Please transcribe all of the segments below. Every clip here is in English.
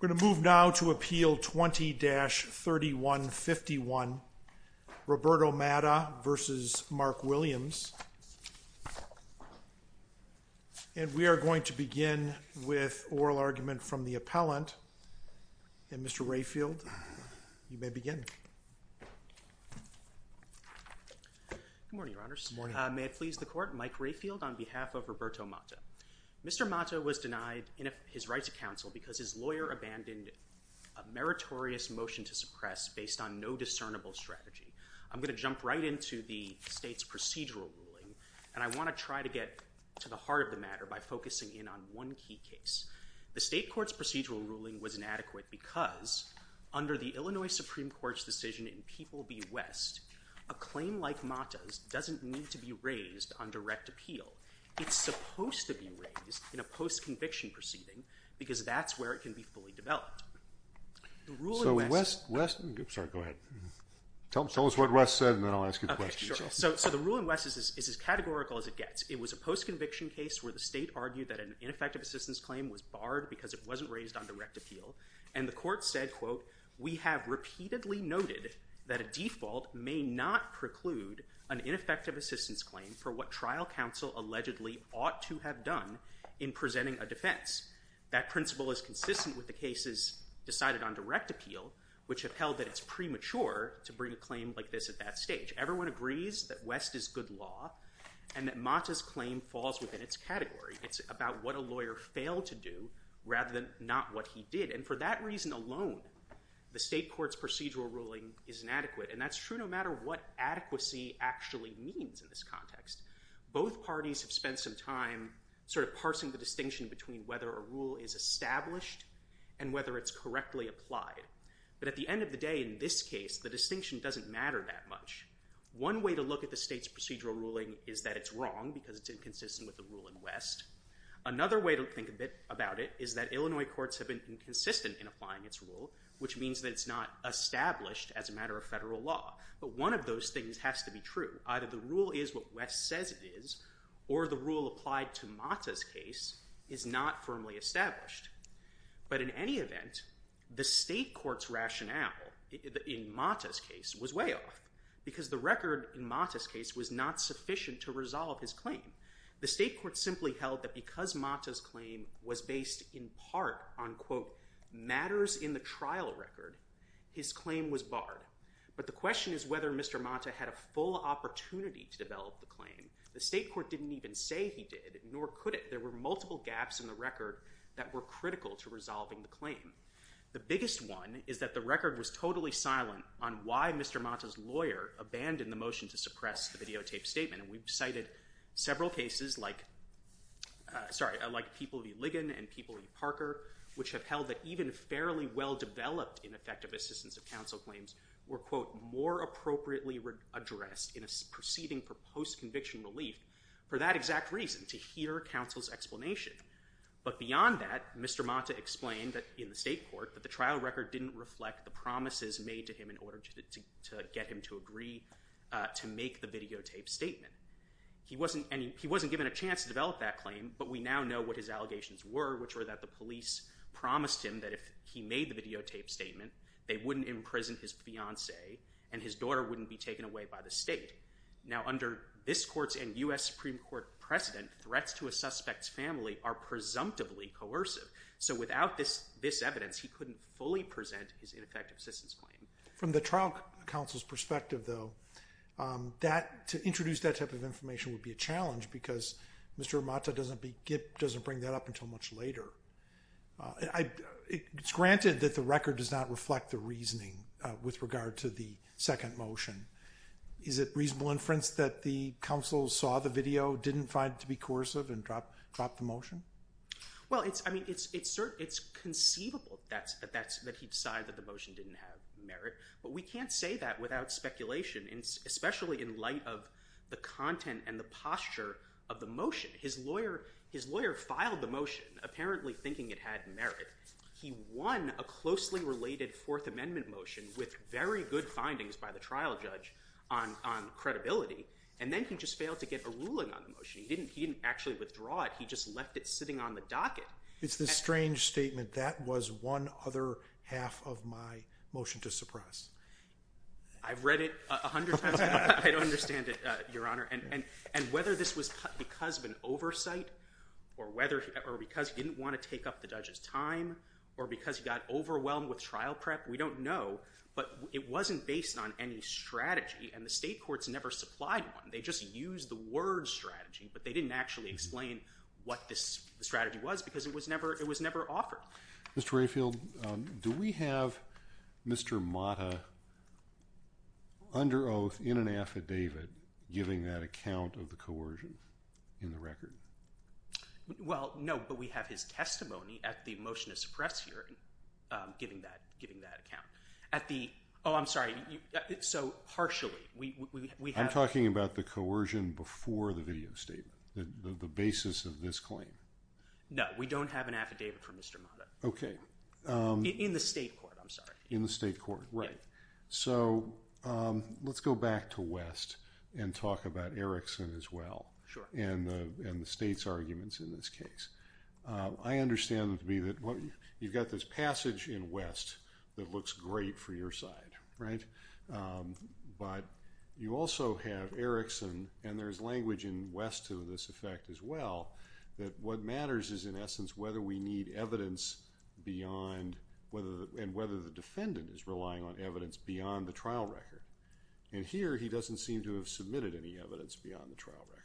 We're going to move now to Appeal 20-3151, Roberto Mata v. Mark Williams, and we are going to begin with oral argument from the appellant, and Mr. Rayfield, you may begin. Mike Rayfield Good morning, Your Honors. May it please the Court, Mike Rayfield on behalf of Roberto Mata. Mr. Mata was denied his right to counsel because his lawyer abandoned a meritorious motion to suppress based on no discernible strategy. I'm going to jump right into the state's procedural ruling, and I want to try to get to the heart of the matter by focusing in on one key case. The state court's procedural ruling was inadequate because, under the Illinois Supreme Court's decision in People v. West, a claim like Mata's doesn't need to be raised on direct appeal. It's supposed to be raised in a post-conviction proceeding because that's where it can be fully developed. The rule in West— The Ruling West— The Ruling West— The Ruling West— It was a post-conviction case where the state argued that an ineffective assistance claim was barred because it wasn't raised on direct appeal, and the court said, quote, We have repeatedly noted that a default may not preclude an ineffective assistance claim for what trial counsel allegedly ought to have done in presenting a defense. That principle is consistent with the cases decided on direct appeal, which have held that it's premature to bring a claim like this at that stage. Everyone agrees that West is good law and that Mata's claim falls within its category. It's about what a lawyer failed to do rather than not what he did. And for that reason alone, the state court's procedural ruling is inadequate. And that's true no matter what adequacy actually means in this context. Both parties have spent some time sort of parsing the distinction between whether a rule is established and whether it's correctly applied. But at the end of the day, in this case, the distinction doesn't matter that much. One way to look at the state's procedural ruling is that it's wrong because it's inconsistent with the rule in West. Another way to think a bit about it is that Illinois courts have been inconsistent in applying its rule, which means that it's not established as a matter of federal law. But one of those things has to be true. Either the rule is what West says it is, or the rule applied to Mata's case is not firmly established. But in any event, the state court's rationale in Mata's case was way off because the record in Mata's case was not sufficient to resolve his claim. The state court simply held that because Mata's claim was based in part on, quote, matters in the trial record, his claim was barred. But the question is whether Mr. Mata had a full opportunity to develop the claim. The state court didn't even say he did, nor could it. There were multiple gaps in the record that were critical to resolving the claim. The biggest one is that the record was totally silent on why Mr. Mata's lawyer abandoned the motion to suppress the videotaped statement. And we've cited several cases like, sorry, like People v. Ligon and People v. Parker, which have held that even fairly well-developed ineffective assistance of counsel claims were, quote, more appropriately addressed in a proceeding for post-conviction relief for that exact reason, to hear counsel's explanation. But beyond that, Mr. Mata explained in the state court that the trial record didn't reflect the promises made to him in order to get him to agree to make the videotaped statement. He wasn't given a chance to develop that claim, but we now know what his allegations were, which were that the police promised him that if he made the videotaped statement, they wouldn't imprison his fiancee and his daughter wouldn't be taken away by the state. Now under this court's and U.S. Supreme Court precedent, threats to a suspect's family are presumptively coercive. So without this evidence, he couldn't fully present his ineffective assistance claim. From the trial counsel's perspective, though, to introduce that type of information would be a challenge because Mr. Mata doesn't bring that up until much later. It's granted that the record does not reflect the reasoning with regard to the second motion. Is it reasonable inference that the counsel saw the video, didn't find it to be coercive, and dropped the motion? Well it's conceivable that he decided that the motion didn't have merit, but we can't say that without speculation, especially in light of the content and the posture of the mostly related Fourth Amendment motion with very good findings by the trial judge on credibility. And then he just failed to get a ruling on the motion. He didn't actually withdraw it, he just left it sitting on the docket. It's this strange statement, that was one other half of my motion to suppress. I've read it a hundred times, but I don't understand it, Your Honor. And whether this was because of an oversight, or because he didn't want to take up the judge's time, or because he got overwhelmed with trial prep, we don't know. But it wasn't based on any strategy, and the state courts never supplied one. They just used the word strategy, but they didn't actually explain what this strategy was because it was never offered. Mr. Rayfield, do we have Mr. Mata under oath in an affidavit giving that account of the coercion in the record? Well, no, but we have his testimony at the motion to suppress here, giving that account. At the, oh I'm sorry, so partially, we have... I'm talking about the coercion before the video statement, the basis of this claim. No, we don't have an affidavit for Mr. Mata. Okay. In the state court, I'm sorry. In the state court, right. So, let's go back to West and talk about Erickson as well, and the state's arguments in this case. I understand it to be that you've got this passage in West that looks great for your side, right? But you also have Erickson, and there's language in West to this effect as well, that what matters is in essence whether we need evidence beyond, and whether the defendant is relying on evidence beyond the trial record. And here he doesn't seem to have submitted any evidence beyond the trial record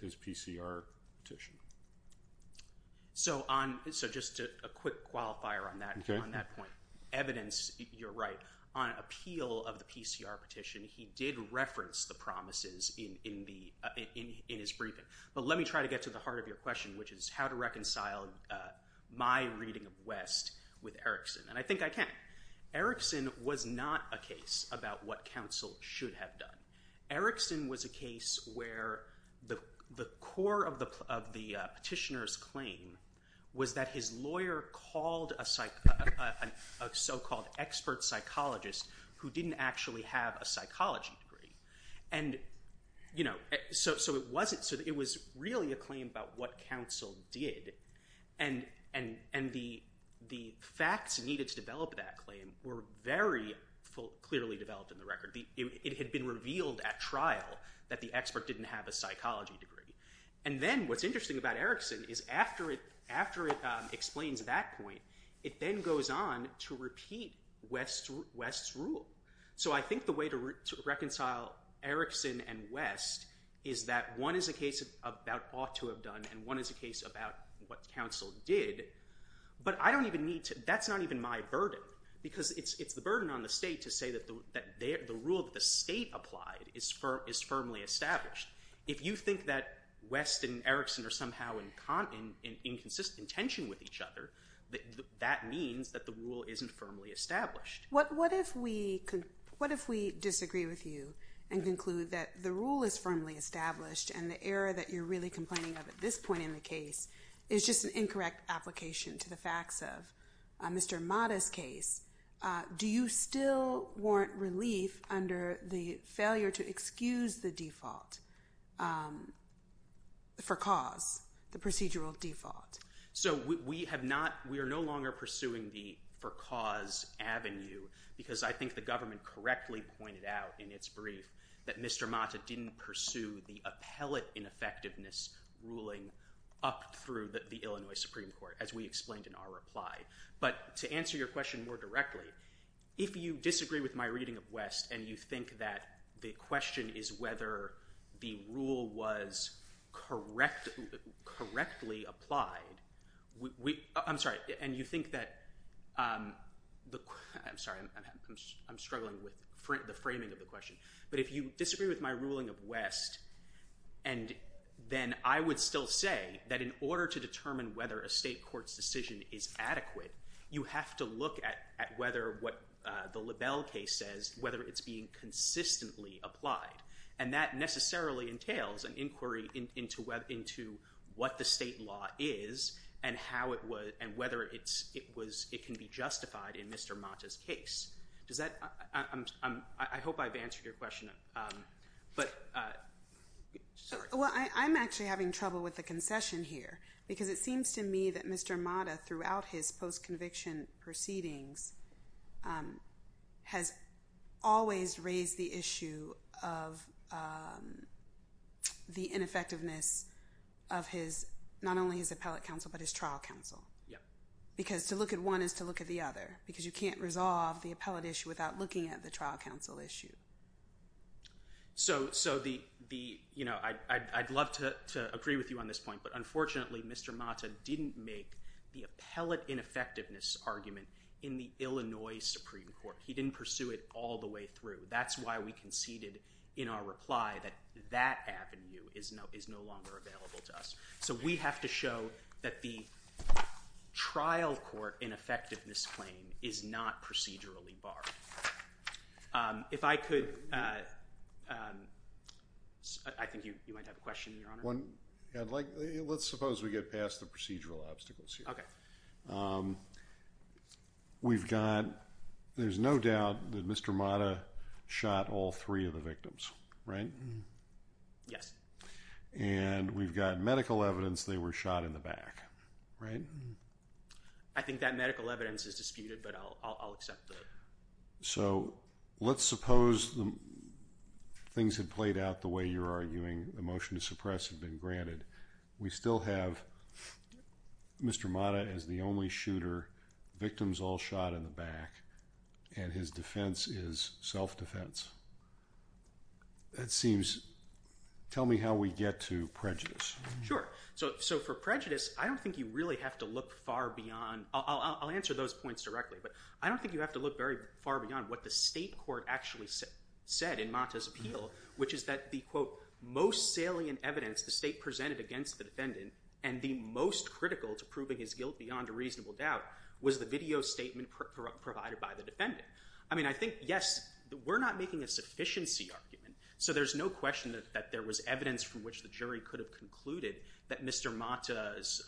with his PCR petition. So just a quick qualifier on that point. Evidence, you're right. On appeal of the PCR petition, he did reference the promises in his briefing. But let me try to get to the heart of your question, which is how to reconcile my reading of West with Erickson. And I think I can. Erickson was not a case about what counsel should have done. Erickson was a case where the core of the petitioner's claim was that his lawyer called a so-called expert psychologist who didn't actually have a psychology degree. So it was really a claim about what counsel did. And the facts needed to develop that claim were very clearly developed in the record. It had been revealed at trial that the expert didn't have a psychology degree. And then what's interesting about Erickson is after it explains that point, it then goes on to repeat West's rule. So I think the way to reconcile Erickson and West is that one is a case about ought to have done, and one is a case about what counsel did. But I don't even need to, that's not even my burden. Because it's the burden on the state to say that the rule that the state applied is firmly established. If you think that West and Erickson are somehow in inconsistent tension with each other, that means that the rule isn't firmly established. What if we disagree with you and conclude that the rule is firmly established and that the error that you're really complaining of at this point in the case is just an incorrect application to the facts of Mr. Mata's case? Do you still warrant relief under the failure to excuse the default for cause, the procedural default? So we have not, we are no longer pursuing the for cause avenue because I think the government correctly pointed out in its brief that Mr. Mata didn't pursue the appellate ineffectiveness ruling up through the Illinois Supreme Court, as we explained in our reply. But to answer your question more directly, if you disagree with my reading of West and you think that the question is whether the rule was correctly applied, I'm sorry, and you think that, I'm struggling with the framing of the question, but if you disagree with my ruling of West, and then I would still say that in order to determine whether a state court's decision is adequate, you have to look at whether what the LaBelle case says, whether it's being consistently applied. And that necessarily entails an inquiry into what the state law is and whether it can be justified in Mr. Mata's case. Does that, I hope I've answered your question, but, sorry. Well, I'm actually having trouble with the concession here because it seems to me that Mr. Mata throughout his post-conviction proceedings has always raised the issue of the ineffectiveness of his, not only his appellate counsel, but his trial counsel. Because to look at one is to look at the other, because you can't resolve the appellate issue without looking at the trial counsel issue. So the, you know, I'd love to agree with you on this point, but unfortunately Mr. Mata didn't make the appellate ineffectiveness argument in the Illinois Supreme Court. He didn't pursue it all the way through. That's why we conceded in our reply that that avenue is no longer available to us. So we have to show that the trial court ineffectiveness claim is not procedurally barred. If I could, I think you might have a question, Your Honor. Let's suppose we get past the procedural obstacles here. We've got, there's no doubt that Mr. Mata is the only shooter. Victims all shot in the back, and his defense is self-defense. Right? Yes. And we've got medical evidence they were shot in the back. Right? I think that medical evidence is disputed, but I'll accept that. So let's suppose things had played out the way you're arguing, the motion to suppress had been granted. We still have Mr. Mata as the only shooter, victims all shot in the back. That seems, tell me how we get to prejudice. Sure. So for prejudice, I don't think you really have to look far beyond, I'll answer those points directly, but I don't think you have to look very far beyond what the state court actually said in Mata's appeal, which is that the quote, most salient evidence the state presented against the defendant, and the most critical to proving his guilt beyond a reasonable doubt, was the video statement provided by the defendant. I mean, I think, yes, we're not making a sufficiency argument, so there's no question that there was evidence from which the jury could have concluded that Mr. Mata's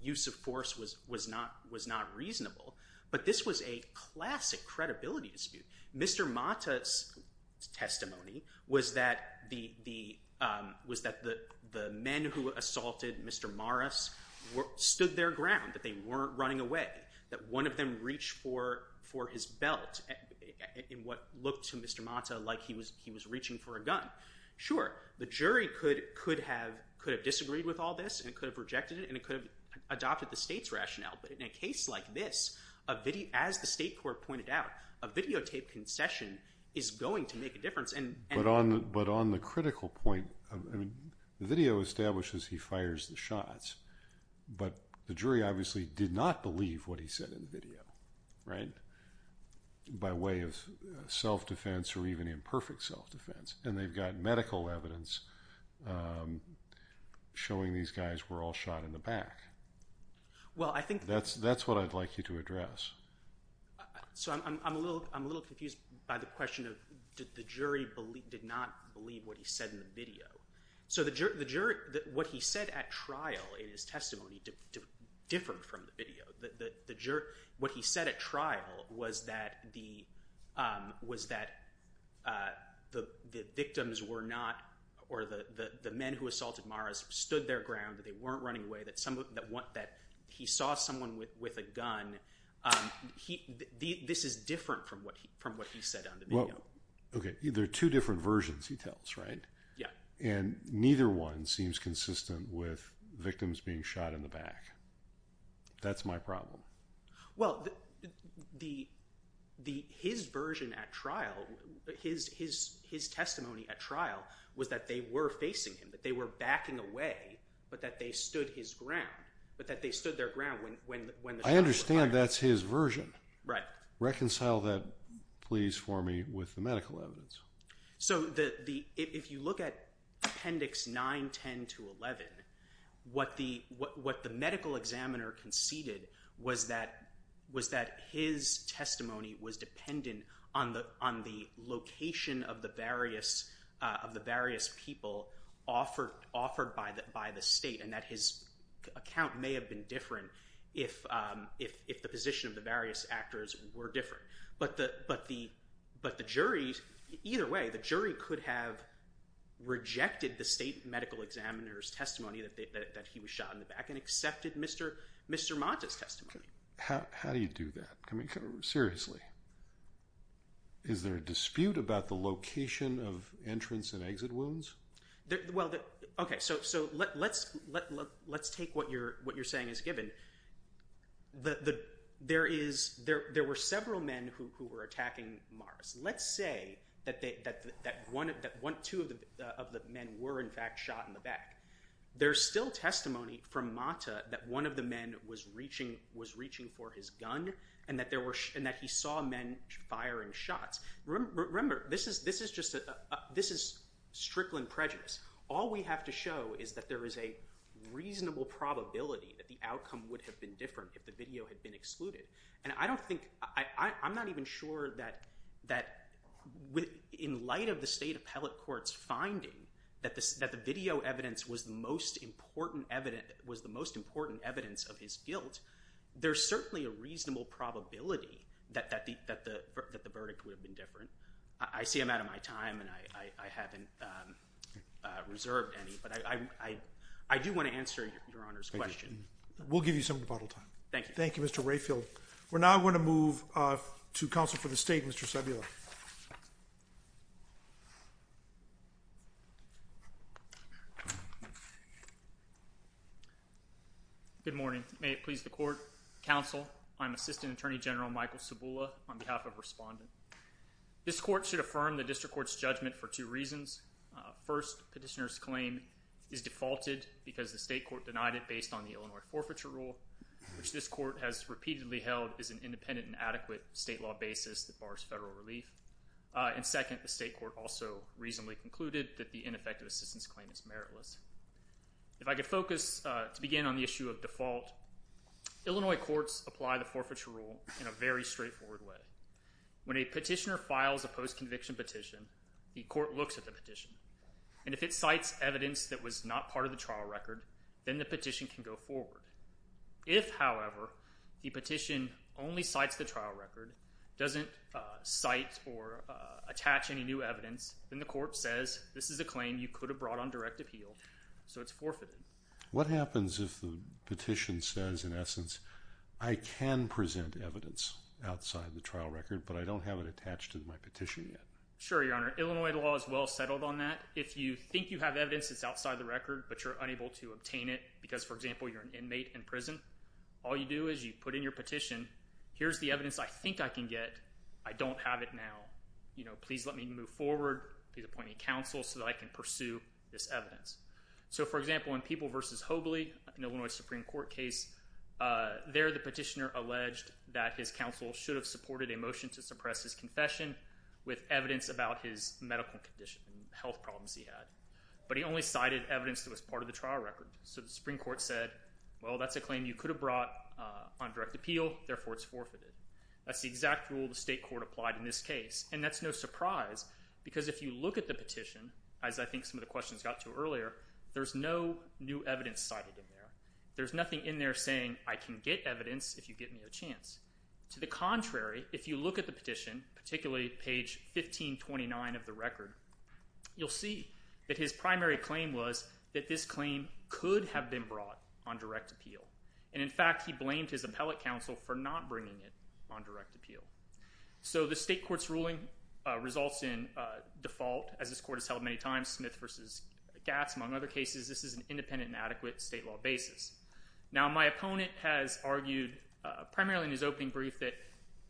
use of force was not reasonable, but this was a classic credibility dispute. Mr. Mata's testimony was that the men who assaulted Mr. Morris stood their ground, that they weren't running away, that one of them reached for his belt, in what looked to Mr. Mata like he was reaching for a gun. Sure, the jury could have disagreed with all this, and could have rejected it, and could have adopted the state's rationale, but in a case like this, as the state court pointed out, a videotaped concession is going to make a difference. But on the critical point, the video establishes he fires the shots, but the jury obviously did not believe what he said in the video, right, by way of self-defense or even imperfect self-defense, and they've got medical evidence showing these guys were all shot in the back. That's what I'd like you to address. So I'm a little confused by the question of the jury did not believe what he said in the video. What he said at trial was that the victims were not, or the men who assaulted Morris stood their ground, that they weren't running away, that he saw someone with a gun. This is different from what he said on the video. Okay, there are two different versions, he tells, right, and neither one seems consistent with victims being shot in the back. That's my problem. Well, his version at trial, his testimony at trial, was that they were facing him, that they were backing away, but that they stood his ground, but that they stood their ground when the shots were fired. I understand that's his version. Right. Reconcile that, please, for me with the medical evidence. So if you look at Appendix 9, 10 to 11, what the medical examiner conceded was that his testimony was dependent on the location of the various people offered by the state, and that his account may have been different if the position of the various actors were different. But the jury, either way, the jury could have rejected the state medical examiner's testimony that he was shot in the back and accepted Mr. Monta's testimony. How do you do that? I mean, seriously. Is there a dispute about the location of entrance and exit wounds? Well, okay, so let's take what you're saying as given. There were several men who were attacking Morris. Let's say that two of the men were, in fact, shot in the back. There's still testimony from Monta that one of the men was reaching for his gun and that he saw men firing shots. Remember, this is strickling prejudice. All we have to show is that there is a reasonable probability that the outcome would have been different if the video had been excluded. And I don't think, I'm not even sure that in light of the state appellate court's finding that the video evidence was the most important evidence of his guilt, there's certainly a reasonable probability that the verdict would have been different. I see I'm out of my time and I haven't reserved any, but I do want to answer Your Honor's question. We'll give you some rebuttal time. Thank you. Thank you, Mr. Rayfield. We're now going to move to counsel for the state, Mr. Cebula. Good morning. May it please the court, counsel, I'm Assistant Attorney General Michael Cebula on behalf of Respondent. This court should affirm the district court's judgment for two reasons. First, petitioner's claim is defaulted because the state court denied it based on the Illinois forfeiture rule, which this court has repeatedly held is an independent and adequate state law basis that bars federal relief. And second, the state court also reasonably concluded that the ineffective assistance claim is meritless. If I could focus to begin on the issue of default, Illinois courts apply the forfeiture rule in a very straightforward way. When a petitioner files a post-conviction petition, the court looks at the petition. And if it cites evidence that was not part of the trial record, then the petition can go forward. If, however, the petition only cites the trial record, doesn't cite or attach any new evidence, then the court says, this is a claim you could have brought on direct appeal, so it's forfeited. What happens if the petition says, in essence, I can present evidence outside the trial record but I don't have it attached to my petition yet? Sure, Your Honor. Illinois law is well settled on that. If you think you have evidence that's you're unable to obtain it because, for example, you're an inmate in prison, all you do is you put in your petition, here's the evidence I think I can get. I don't have it now. Please let me move forward. Please appoint a counsel so that I can pursue this evidence. So for example, in People v. Hobley, an Illinois Supreme Court case, there the petitioner alleged that his counsel should have supported a motion to suppress his confession with evidence about his medical condition and health problems he had. But he only cited evidence that was part of the trial record. So the Supreme Court said, well, that's a claim you could have brought on direct appeal, therefore it's forfeited. That's the exact rule the state court applied in this case. And that's no surprise because if you look at the petition, as I think some of the questions got to earlier, there's no new evidence cited in there. There's nothing in there saying, I can get evidence if you give me a chance. To the contrary, if you look at the petition, particularly page 1529 of the record, you'll see that his primary claim was that this claim could have been brought on direct appeal. And in fact, he blamed his appellate counsel for not bringing it on direct appeal. So the state court's ruling results in default, as this court has held many times, Smith v. Gatz, among other cases. This is an independent and adequate state law basis. Now my opponent has argued primarily in his opening brief that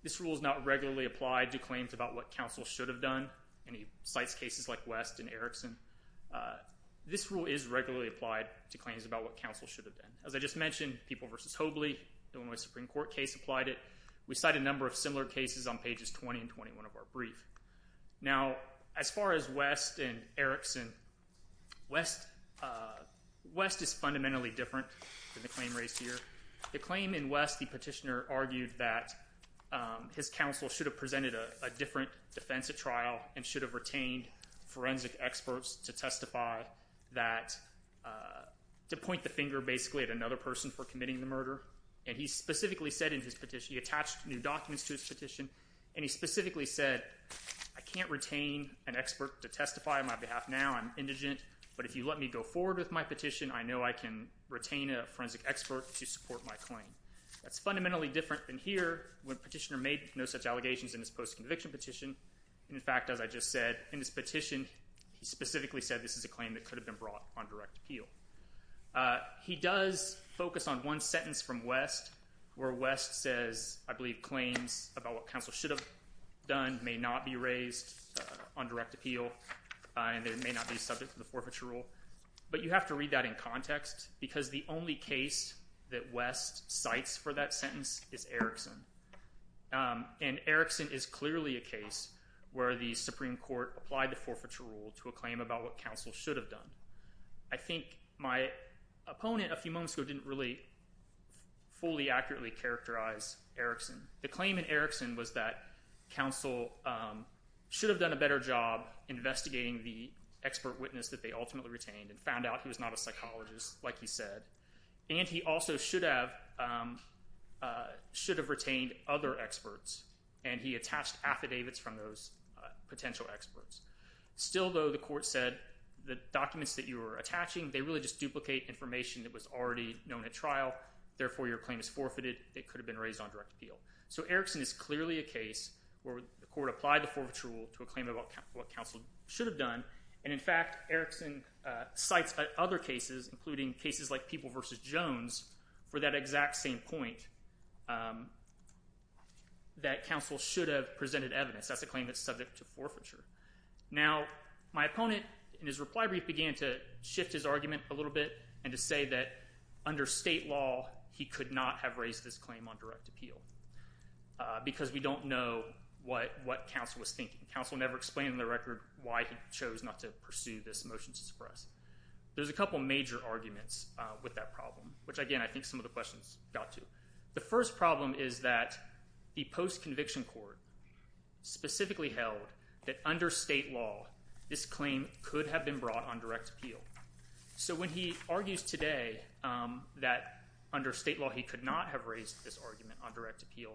this rule is not regularly applied to claims about what counsel should have done. And he cites cases like West and Erickson. This rule is regularly applied to claims about what counsel should have done. As I just mentioned, People v. Hobley, the Illinois Supreme Court case applied it. We cite a number of similar cases on pages 20 and 21 of our brief. Now as far as West and Erickson, West is fundamentally different than the claim raised here. The petitioner argued that his counsel should have presented a different defense at trial and should have retained forensic experts to testify that, to point the finger basically at another person for committing the murder. And he specifically said in his petition, he attached new documents to his petition, and he specifically said, I can't retain an expert to testify on my behalf now. I'm indigent. But if you let me go forward with my petition, I know I can retain a forensic expert to support my claim. That's fundamentally different than here, when petitioner made no such allegations in his post-conviction petition. And in fact, as I just said, in his petition, he specifically said this is a claim that could have been brought on direct appeal. He does focus on one sentence from West, where West says, I believe, claims about what counsel should have done may not be raised on direct appeal, and they may not be subject to the context, because the only case that West cites for that sentence is Erickson. And Erickson is clearly a case where the Supreme Court applied the forfeiture rule to a claim about what counsel should have done. I think my opponent a few moments ago didn't really fully accurately characterize Erickson. The claim in Erickson was that counsel should have done a better job investigating the expert witness that they ultimately retained and found out he was not a psychologist, like he said. And he also should have retained other experts, and he attached affidavits from those potential experts. Still, though, the court said the documents that you were attaching, they really just duplicate information that was already known at trial. Therefore, your claim is forfeited. It could have been raised on direct appeal. So Erickson is clearly a case where the court applied the forfeiture rule to a claim about what counsel should have done. And in fact, Erickson cites other cases, including cases like People v. Jones, for that exact same point, that counsel should have presented evidence. That's a claim that's subject to forfeiture. Now, my opponent in his reply brief began to shift his argument a little bit and to say that under state law, he could not have raised this claim on direct appeal, because we don't know what counsel was thinking. Counsel never explained on the record why he chose not to pursue this motion to suppress. There's a couple major arguments with that problem, which, again, I think some of the questions got to. The first problem is that the post-conviction court specifically held that under state law, this claim could have been brought on direct appeal. So when he argues today that under state law, he could not have raised this argument on direct appeal,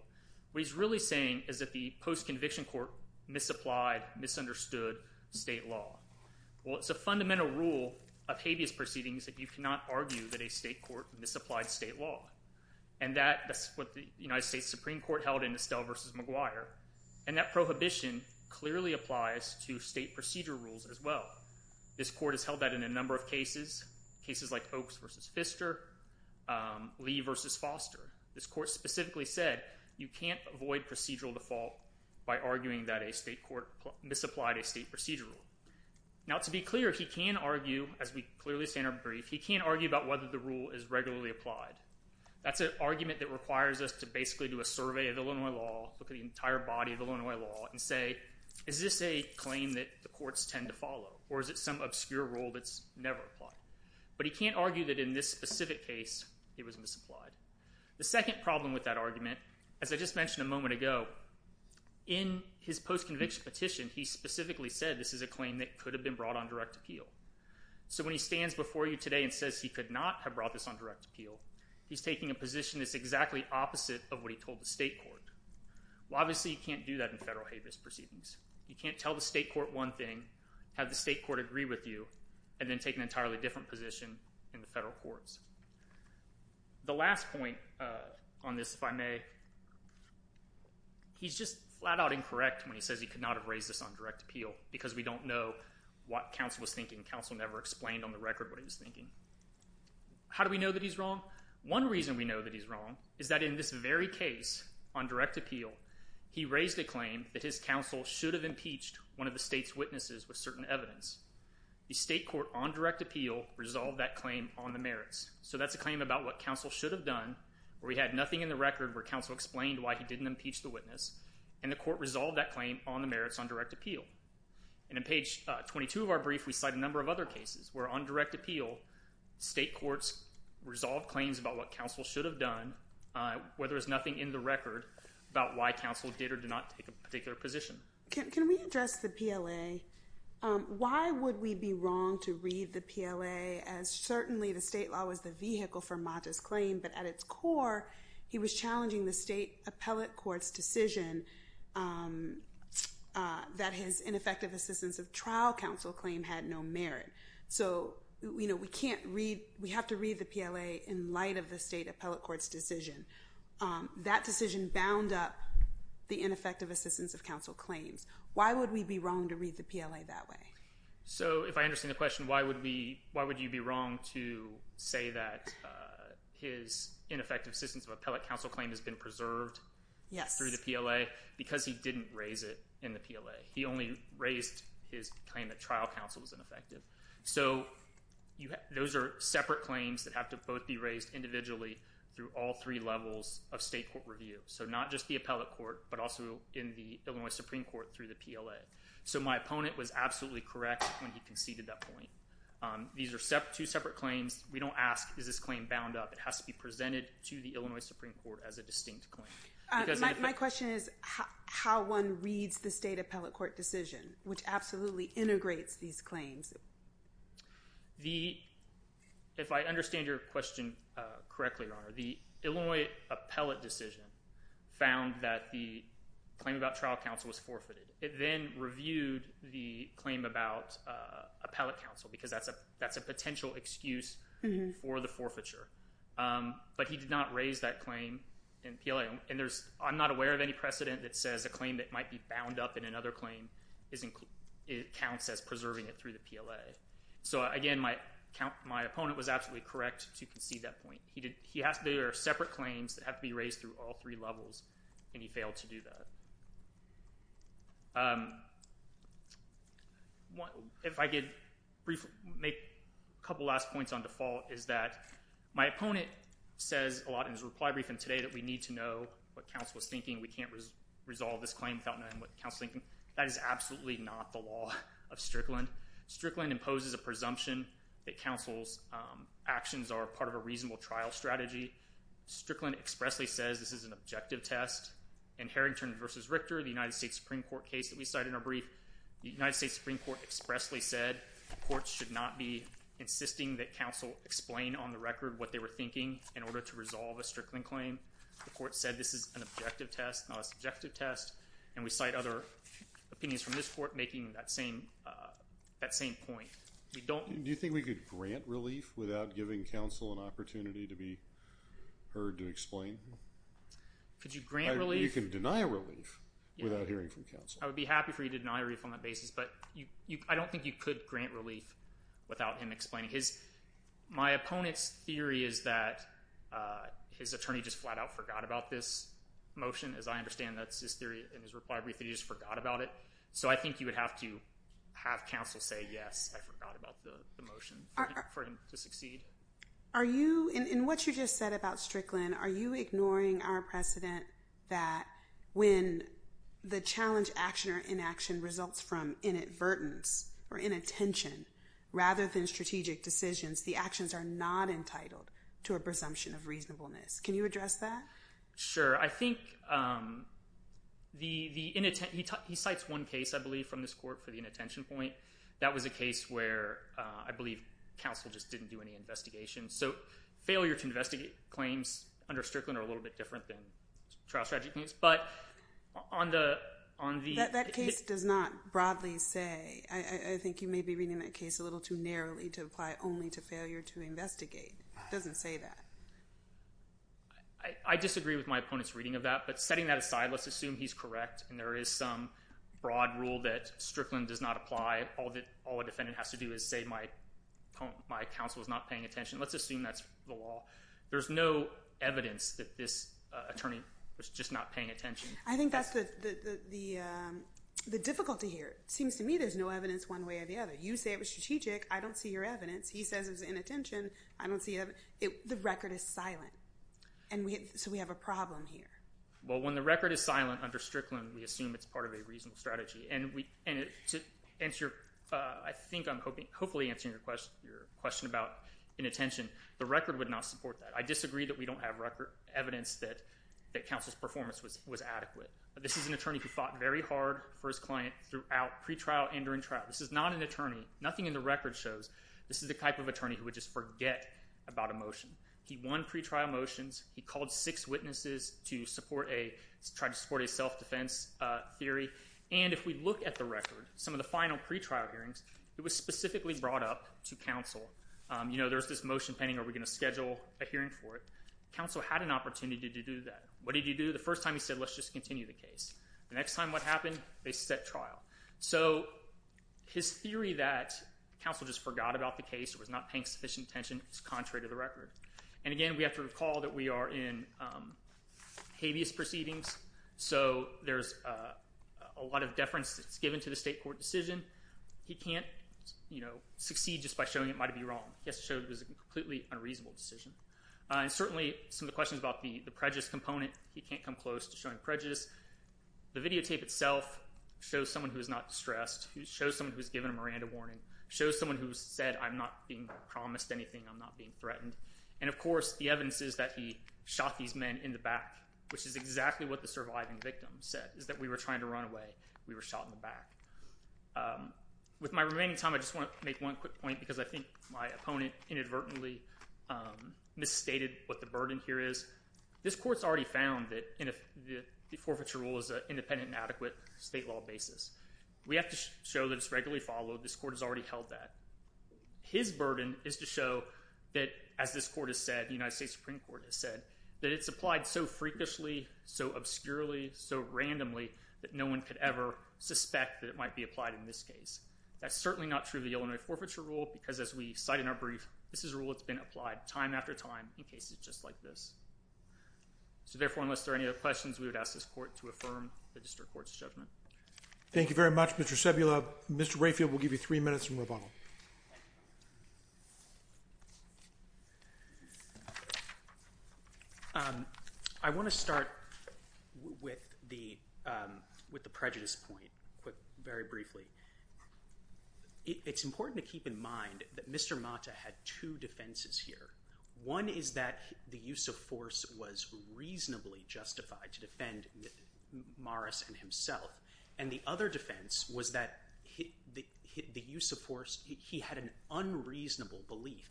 what he's really saying is that the post-conviction court misapplied, misunderstood state law. Well, it's a fundamental rule of habeas proceedings that you cannot argue that a state court misapplied state law. And that's what the United States Supreme Court held in Estelle v. McGuire. And that prohibition clearly applies to state procedure rules as well. This court has held that in a number of cases, cases like Oaks v. Pfister, Lee v. Foster. This court specifically said you can't avoid procedural default by arguing that a state court misapplied a state procedure rule. Now, to be clear, he can argue, as we clearly say in our brief, he can argue about whether the rule is regularly applied. That's an argument that requires us to basically do a survey of Illinois law, look at the entire body of Illinois law, and say, is this a claim that the courts tend to follow, or is it some obscure rule that's never applied? But he can't argue that in this specific case, it was misapplied. The second problem with that argument, as I just mentioned a moment ago, in his post-conviction petition, he specifically said this is a claim that could have been brought on direct appeal. So when he stands before you today and says he could not have brought this on direct appeal, he's taking a position that's exactly opposite of what he told the state court. Well, obviously you can't do that in federal habeas proceedings. You can't tell the state court one thing, have the state court agree with you, and then take an entirely different position in the federal courts. The last point on this, if I may, he's just flat out incorrect when he says he could not have raised this on direct appeal, because we don't know what counsel was thinking. Counsel never explained on the record what he was thinking. How do we know that he's wrong? One reason we know that he's wrong is that in this very case, on direct appeal, he raised a claim that his counsel should have impeached one of the state's witnesses with certain merits. So that's a claim about what counsel should have done, where he had nothing in the record where counsel explained why he didn't impeach the witness, and the court resolved that claim on the merits on direct appeal. And on page 22 of our brief, we cite a number of other cases where on direct appeal, state courts resolved claims about what counsel should have done, where there was nothing in the record about why counsel did or did not take a particular position. Can we address the PLA? Why would we be wrong to read the PLA as certainly the state law was the vehicle for Mata's claim, but at its core, he was challenging the state appellate court's decision that his ineffective assistance of trial counsel claim had no merit. So, you know, we can't read, we have to read the PLA in light of the state appellate court's decision. That decision bound up the ineffective assistance of counsel claims. Why would we be wrong to read the PLA that way? So if I understand the question, why would you be wrong to say that his ineffective assistance of appellate counsel claim has been preserved through the PLA? Because he didn't raise it in the PLA. He only raised his claim that trial counsel was ineffective. So those are three levels of state court review. So not just the appellate court, but also in the Illinois Supreme Court through the PLA. So my opponent was absolutely correct when he conceded that point. These are two separate claims. We don't ask, is this claim bound up? It has to be presented to the Illinois Supreme Court as a distinct claim. My question is how one reads the state appellate court decision, which absolutely integrates these claims. If I understand your question correctly, Your Honor, the Illinois appellate decision found that the claim about trial counsel was forfeited. It then reviewed the claim about appellate counsel because that's a potential excuse for the forfeiture. But he did not raise that claim in PLA. And I'm not aware of any precedent that says a claim that might be bound up in another claim counts as preserving it through the PLA. So again, my opponent was absolutely correct to concede that point. They are separate claims that have to be raised through all three levels, and he failed to do that. If I could make a couple last points on default is that my opponent says a lot in his reply briefing today that we need to know what counsel was thinking. We can't resolve this claim without knowing what counsel was thinking. That is absolutely not the law of Strickland. Strickland imposes a presumption that counsel's actions are part of a reasonable trial strategy. Strickland expressly says this is an objective test. In Harrington v. Richter, the United States Supreme Court case that we cited in our brief, the United States Supreme Court expressly said the courts should not be insisting that counsel explain on the record what they were thinking in order to resolve a Strickland claim. The court said this is an objective test, not a subjective test, and we cite other opinions from this court making that same point. Do you think we could grant relief without giving counsel an opportunity to be heard to explain? Could you grant relief? You can deny relief without hearing from counsel. I would be happy for you to deny relief on that basis, but I don't think you could grant relief without him explaining. My opponent's theory is that his attorney just flat out forgot about this motion. As I understand, that's his theory in his reply brief that he just forgot about it. So I think you would have to have counsel say, yes, I forgot about the motion for him to succeed. Are you, in what you just said about Strickland, are you ignoring our precedent that when the challenge action or inaction results from inadvertence or inattention rather than strategic decisions, the actions are not entitled to a presumption of reasonableness? Can you address that? Sure. I think he cites one case, I believe, from this court for the inattention point. That was a case where I believe counsel just didn't do any investigation. So failure to investigate claims under Strickland are a little bit different than trial strategy claims. But on the— That case does not broadly say—I think you may be reading that case a little too narrowly to apply only to failure to investigate. It doesn't say that. I disagree with my opponent's reading of that. But setting that aside, let's assume he's correct and there is some broad rule that Strickland does not apply, all a defendant has to do is say, my counsel is not paying attention. Let's assume that's the law. There's no evidence that this attorney was just not paying attention. I think that's the difficulty here. It seems to me there's no evidence one way or the other. You say it was strategic. I don't see your evidence. He says it was inattention. I don't think the record is silent. So we have a problem here. Well, when the record is silent under Strickland, we assume it's part of a reasonable strategy. And to answer—I think I'm hopefully answering your question about inattention. The record would not support that. I disagree that we don't have evidence that counsel's performance was adequate. This is an attorney who fought very hard for his client throughout pre-trial and during trial. This is not an attorney. Nothing in the record shows this is the type of attorney who would just forget about a motion. He won pre-trial motions. He called six witnesses to try to support a self-defense theory. And if we look at the record, some of the final pre-trial hearings, it was specifically brought up to counsel. You know, there's this motion pending, are we going to schedule a hearing for it? Counsel had an opportunity to do that. What did he do? The first time he said, let's just continue the case. The next time, what happened? They set trial. So his theory that counsel just forgot about the case or was not paying sufficient attention is contrary to the record. And again, we have to recall that we are in habeas proceedings, so there's a lot of deference that's given to the state court decision. He can't, you know, succeed just by showing it might be wrong. He has to show it was a completely unreasonable decision. And certainly, some of the questions about the prejudice component, he can't come close to showing prejudice. The videotape itself shows someone who is not distressed. It shows someone who's given a Miranda warning. It shows someone who said, I'm not being promised anything. I'm not being threatened. And of course, the evidence is that he shot these men in the back, which is exactly what the surviving victim said, is that we were trying to run away. We were shot in the back. With my remaining time, I just want to make one quick point because I think my opponent inadvertently misstated what the burden here is. This court's already found that the forfeiture rule is an independent and adequate state law basis. We have to show that it's regularly followed. This court has already held that. His burden is to show that, as this court has said, the United States Supreme Court has said, that it's applied so freakishly, so obscurely, so randomly, that no one could ever suspect that it might be applied in this case. That's certainly not true of the Illinois forfeiture rule because, as we cite in our brief, this is a rule that's been applied time after time in cases just like this. So therefore, unless there are any other questions, we would ask this court to affirm the district court's judgment. Thank you very much, Mr. Sebula. Mr. Rayfield will give you three minutes from rebuttal. Thank you. I want to start with the prejudice point very briefly. It's important to keep in mind that Mr. Mata had two defenses here. One is that the use of force was reasonably justified to defend Morris and himself. And the other defense was that he had an unreasonable belief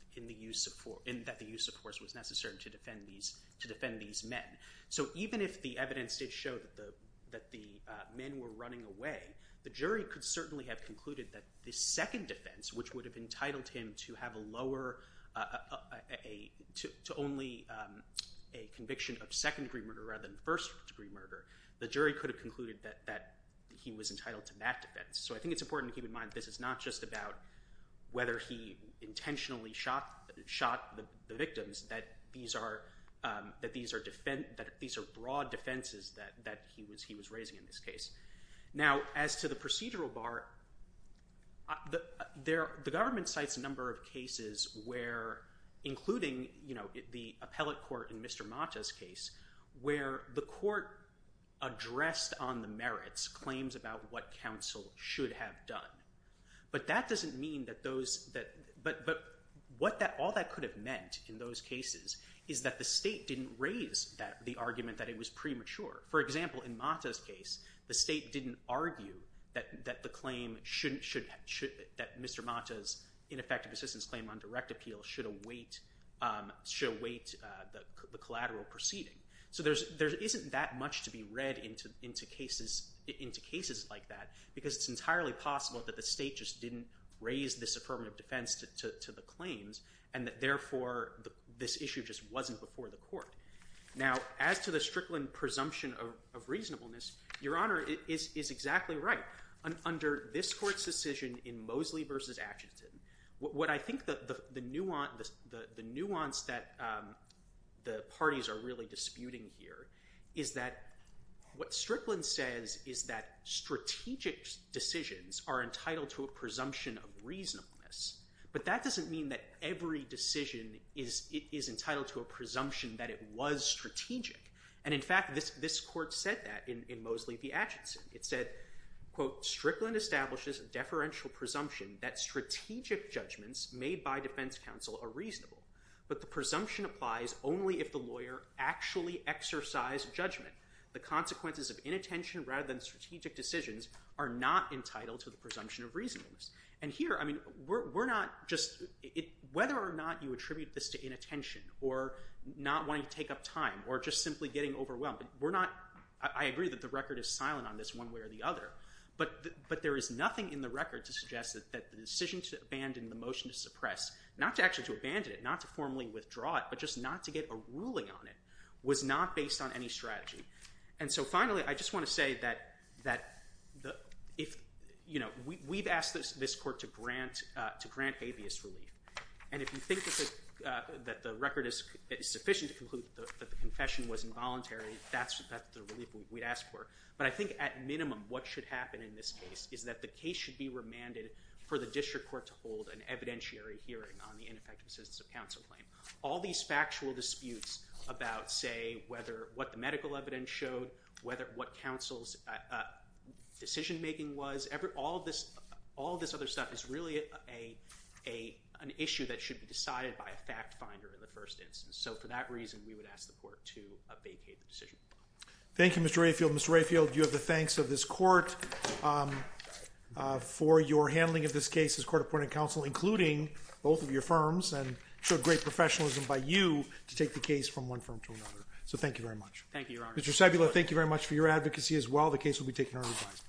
that the use of force was necessary to defend these men. So even if the evidence did show that the men were running away, the jury could certainly have concluded that the murder, the jury could have concluded that he was entitled to that defense. So I think it's important to keep in mind that this is not just about whether he intentionally shot the victims, that these are broad defenses that he was raising in this case. Now as to the procedural bar, the government cites a number of cases where, including the court addressed on the merits, claims about what counsel should have done. But that doesn't mean that those, but all that could have meant in those cases is that the state didn't raise the argument that it was premature. For example, in Mata's case, the state didn't argue that the claim, that Mr. Mata's ineffective assistance claim on direct appeal should await the collateral proceeding. So there isn't that much to be read into cases like that because it's entirely possible that the state just didn't raise this affirmative defense to the claims and that therefore this issue just wasn't before the court. Now as to the Strickland presumption of reasonableness, Your Honor is exactly right. Under this court's decision in Mosley v. Atchison, what I think the nuance that the parties are really disputing here is that what Strickland says is that strategic decisions are entitled to a presumption of reasonableness. But that doesn't mean that every decision is entitled to a presumption that it was strategic. And in fact, this court said that in Mosley v. Atchison. It said, quote, Strickland establishes a deferential presumption that strategic judgments made by defense counsel are reasonable. But the presumption applies only if the lawyer actually exercised judgment. The consequences of inattention rather than strategic decisions are not entitled to the presumption of reasonableness. And here, I mean, we're not just, whether or not you attribute this to inattention or not wanting to take up time or just simply getting overwhelmed, we're not, I agree that the record is silent on this one way or the other. But there is nothing in the record to suggest that the decision to abandon the motion to suppress, not to actually to abandon it, not to formally withdraw it, but just not to get a ruling on it was not based on any strategy. And so finally, I just want to say that if, you know, we've asked this court to grant habeas relief. And if you think that the record is sufficient to conclude that the confession was involuntary, that's the relief we'd ask for. But I think at minimum, what should happen in this case is that the case should be remanded for the district court to hold an evidentiary hearing on the ineffective assistance of counsel claim. All these factual disputes about, say, whether what the medical evidence showed, whether what counsel's decision making was, all this other stuff is really an issue that should be decided by a fact finder in the first instance. So for that reason, we would ask the court to vacate the decision. Thank you, Mr. Rayfield. Mr. Rayfield, you have the thanks of this court for your handling of this case as court appointed counsel, including both of your firms and showed great professionalism by you to take the case from one firm to another. So thank you very much. Thank you, Your Honor. Mr. Sebula, thank you very much for your advocacy as well. The case will be taken under revise.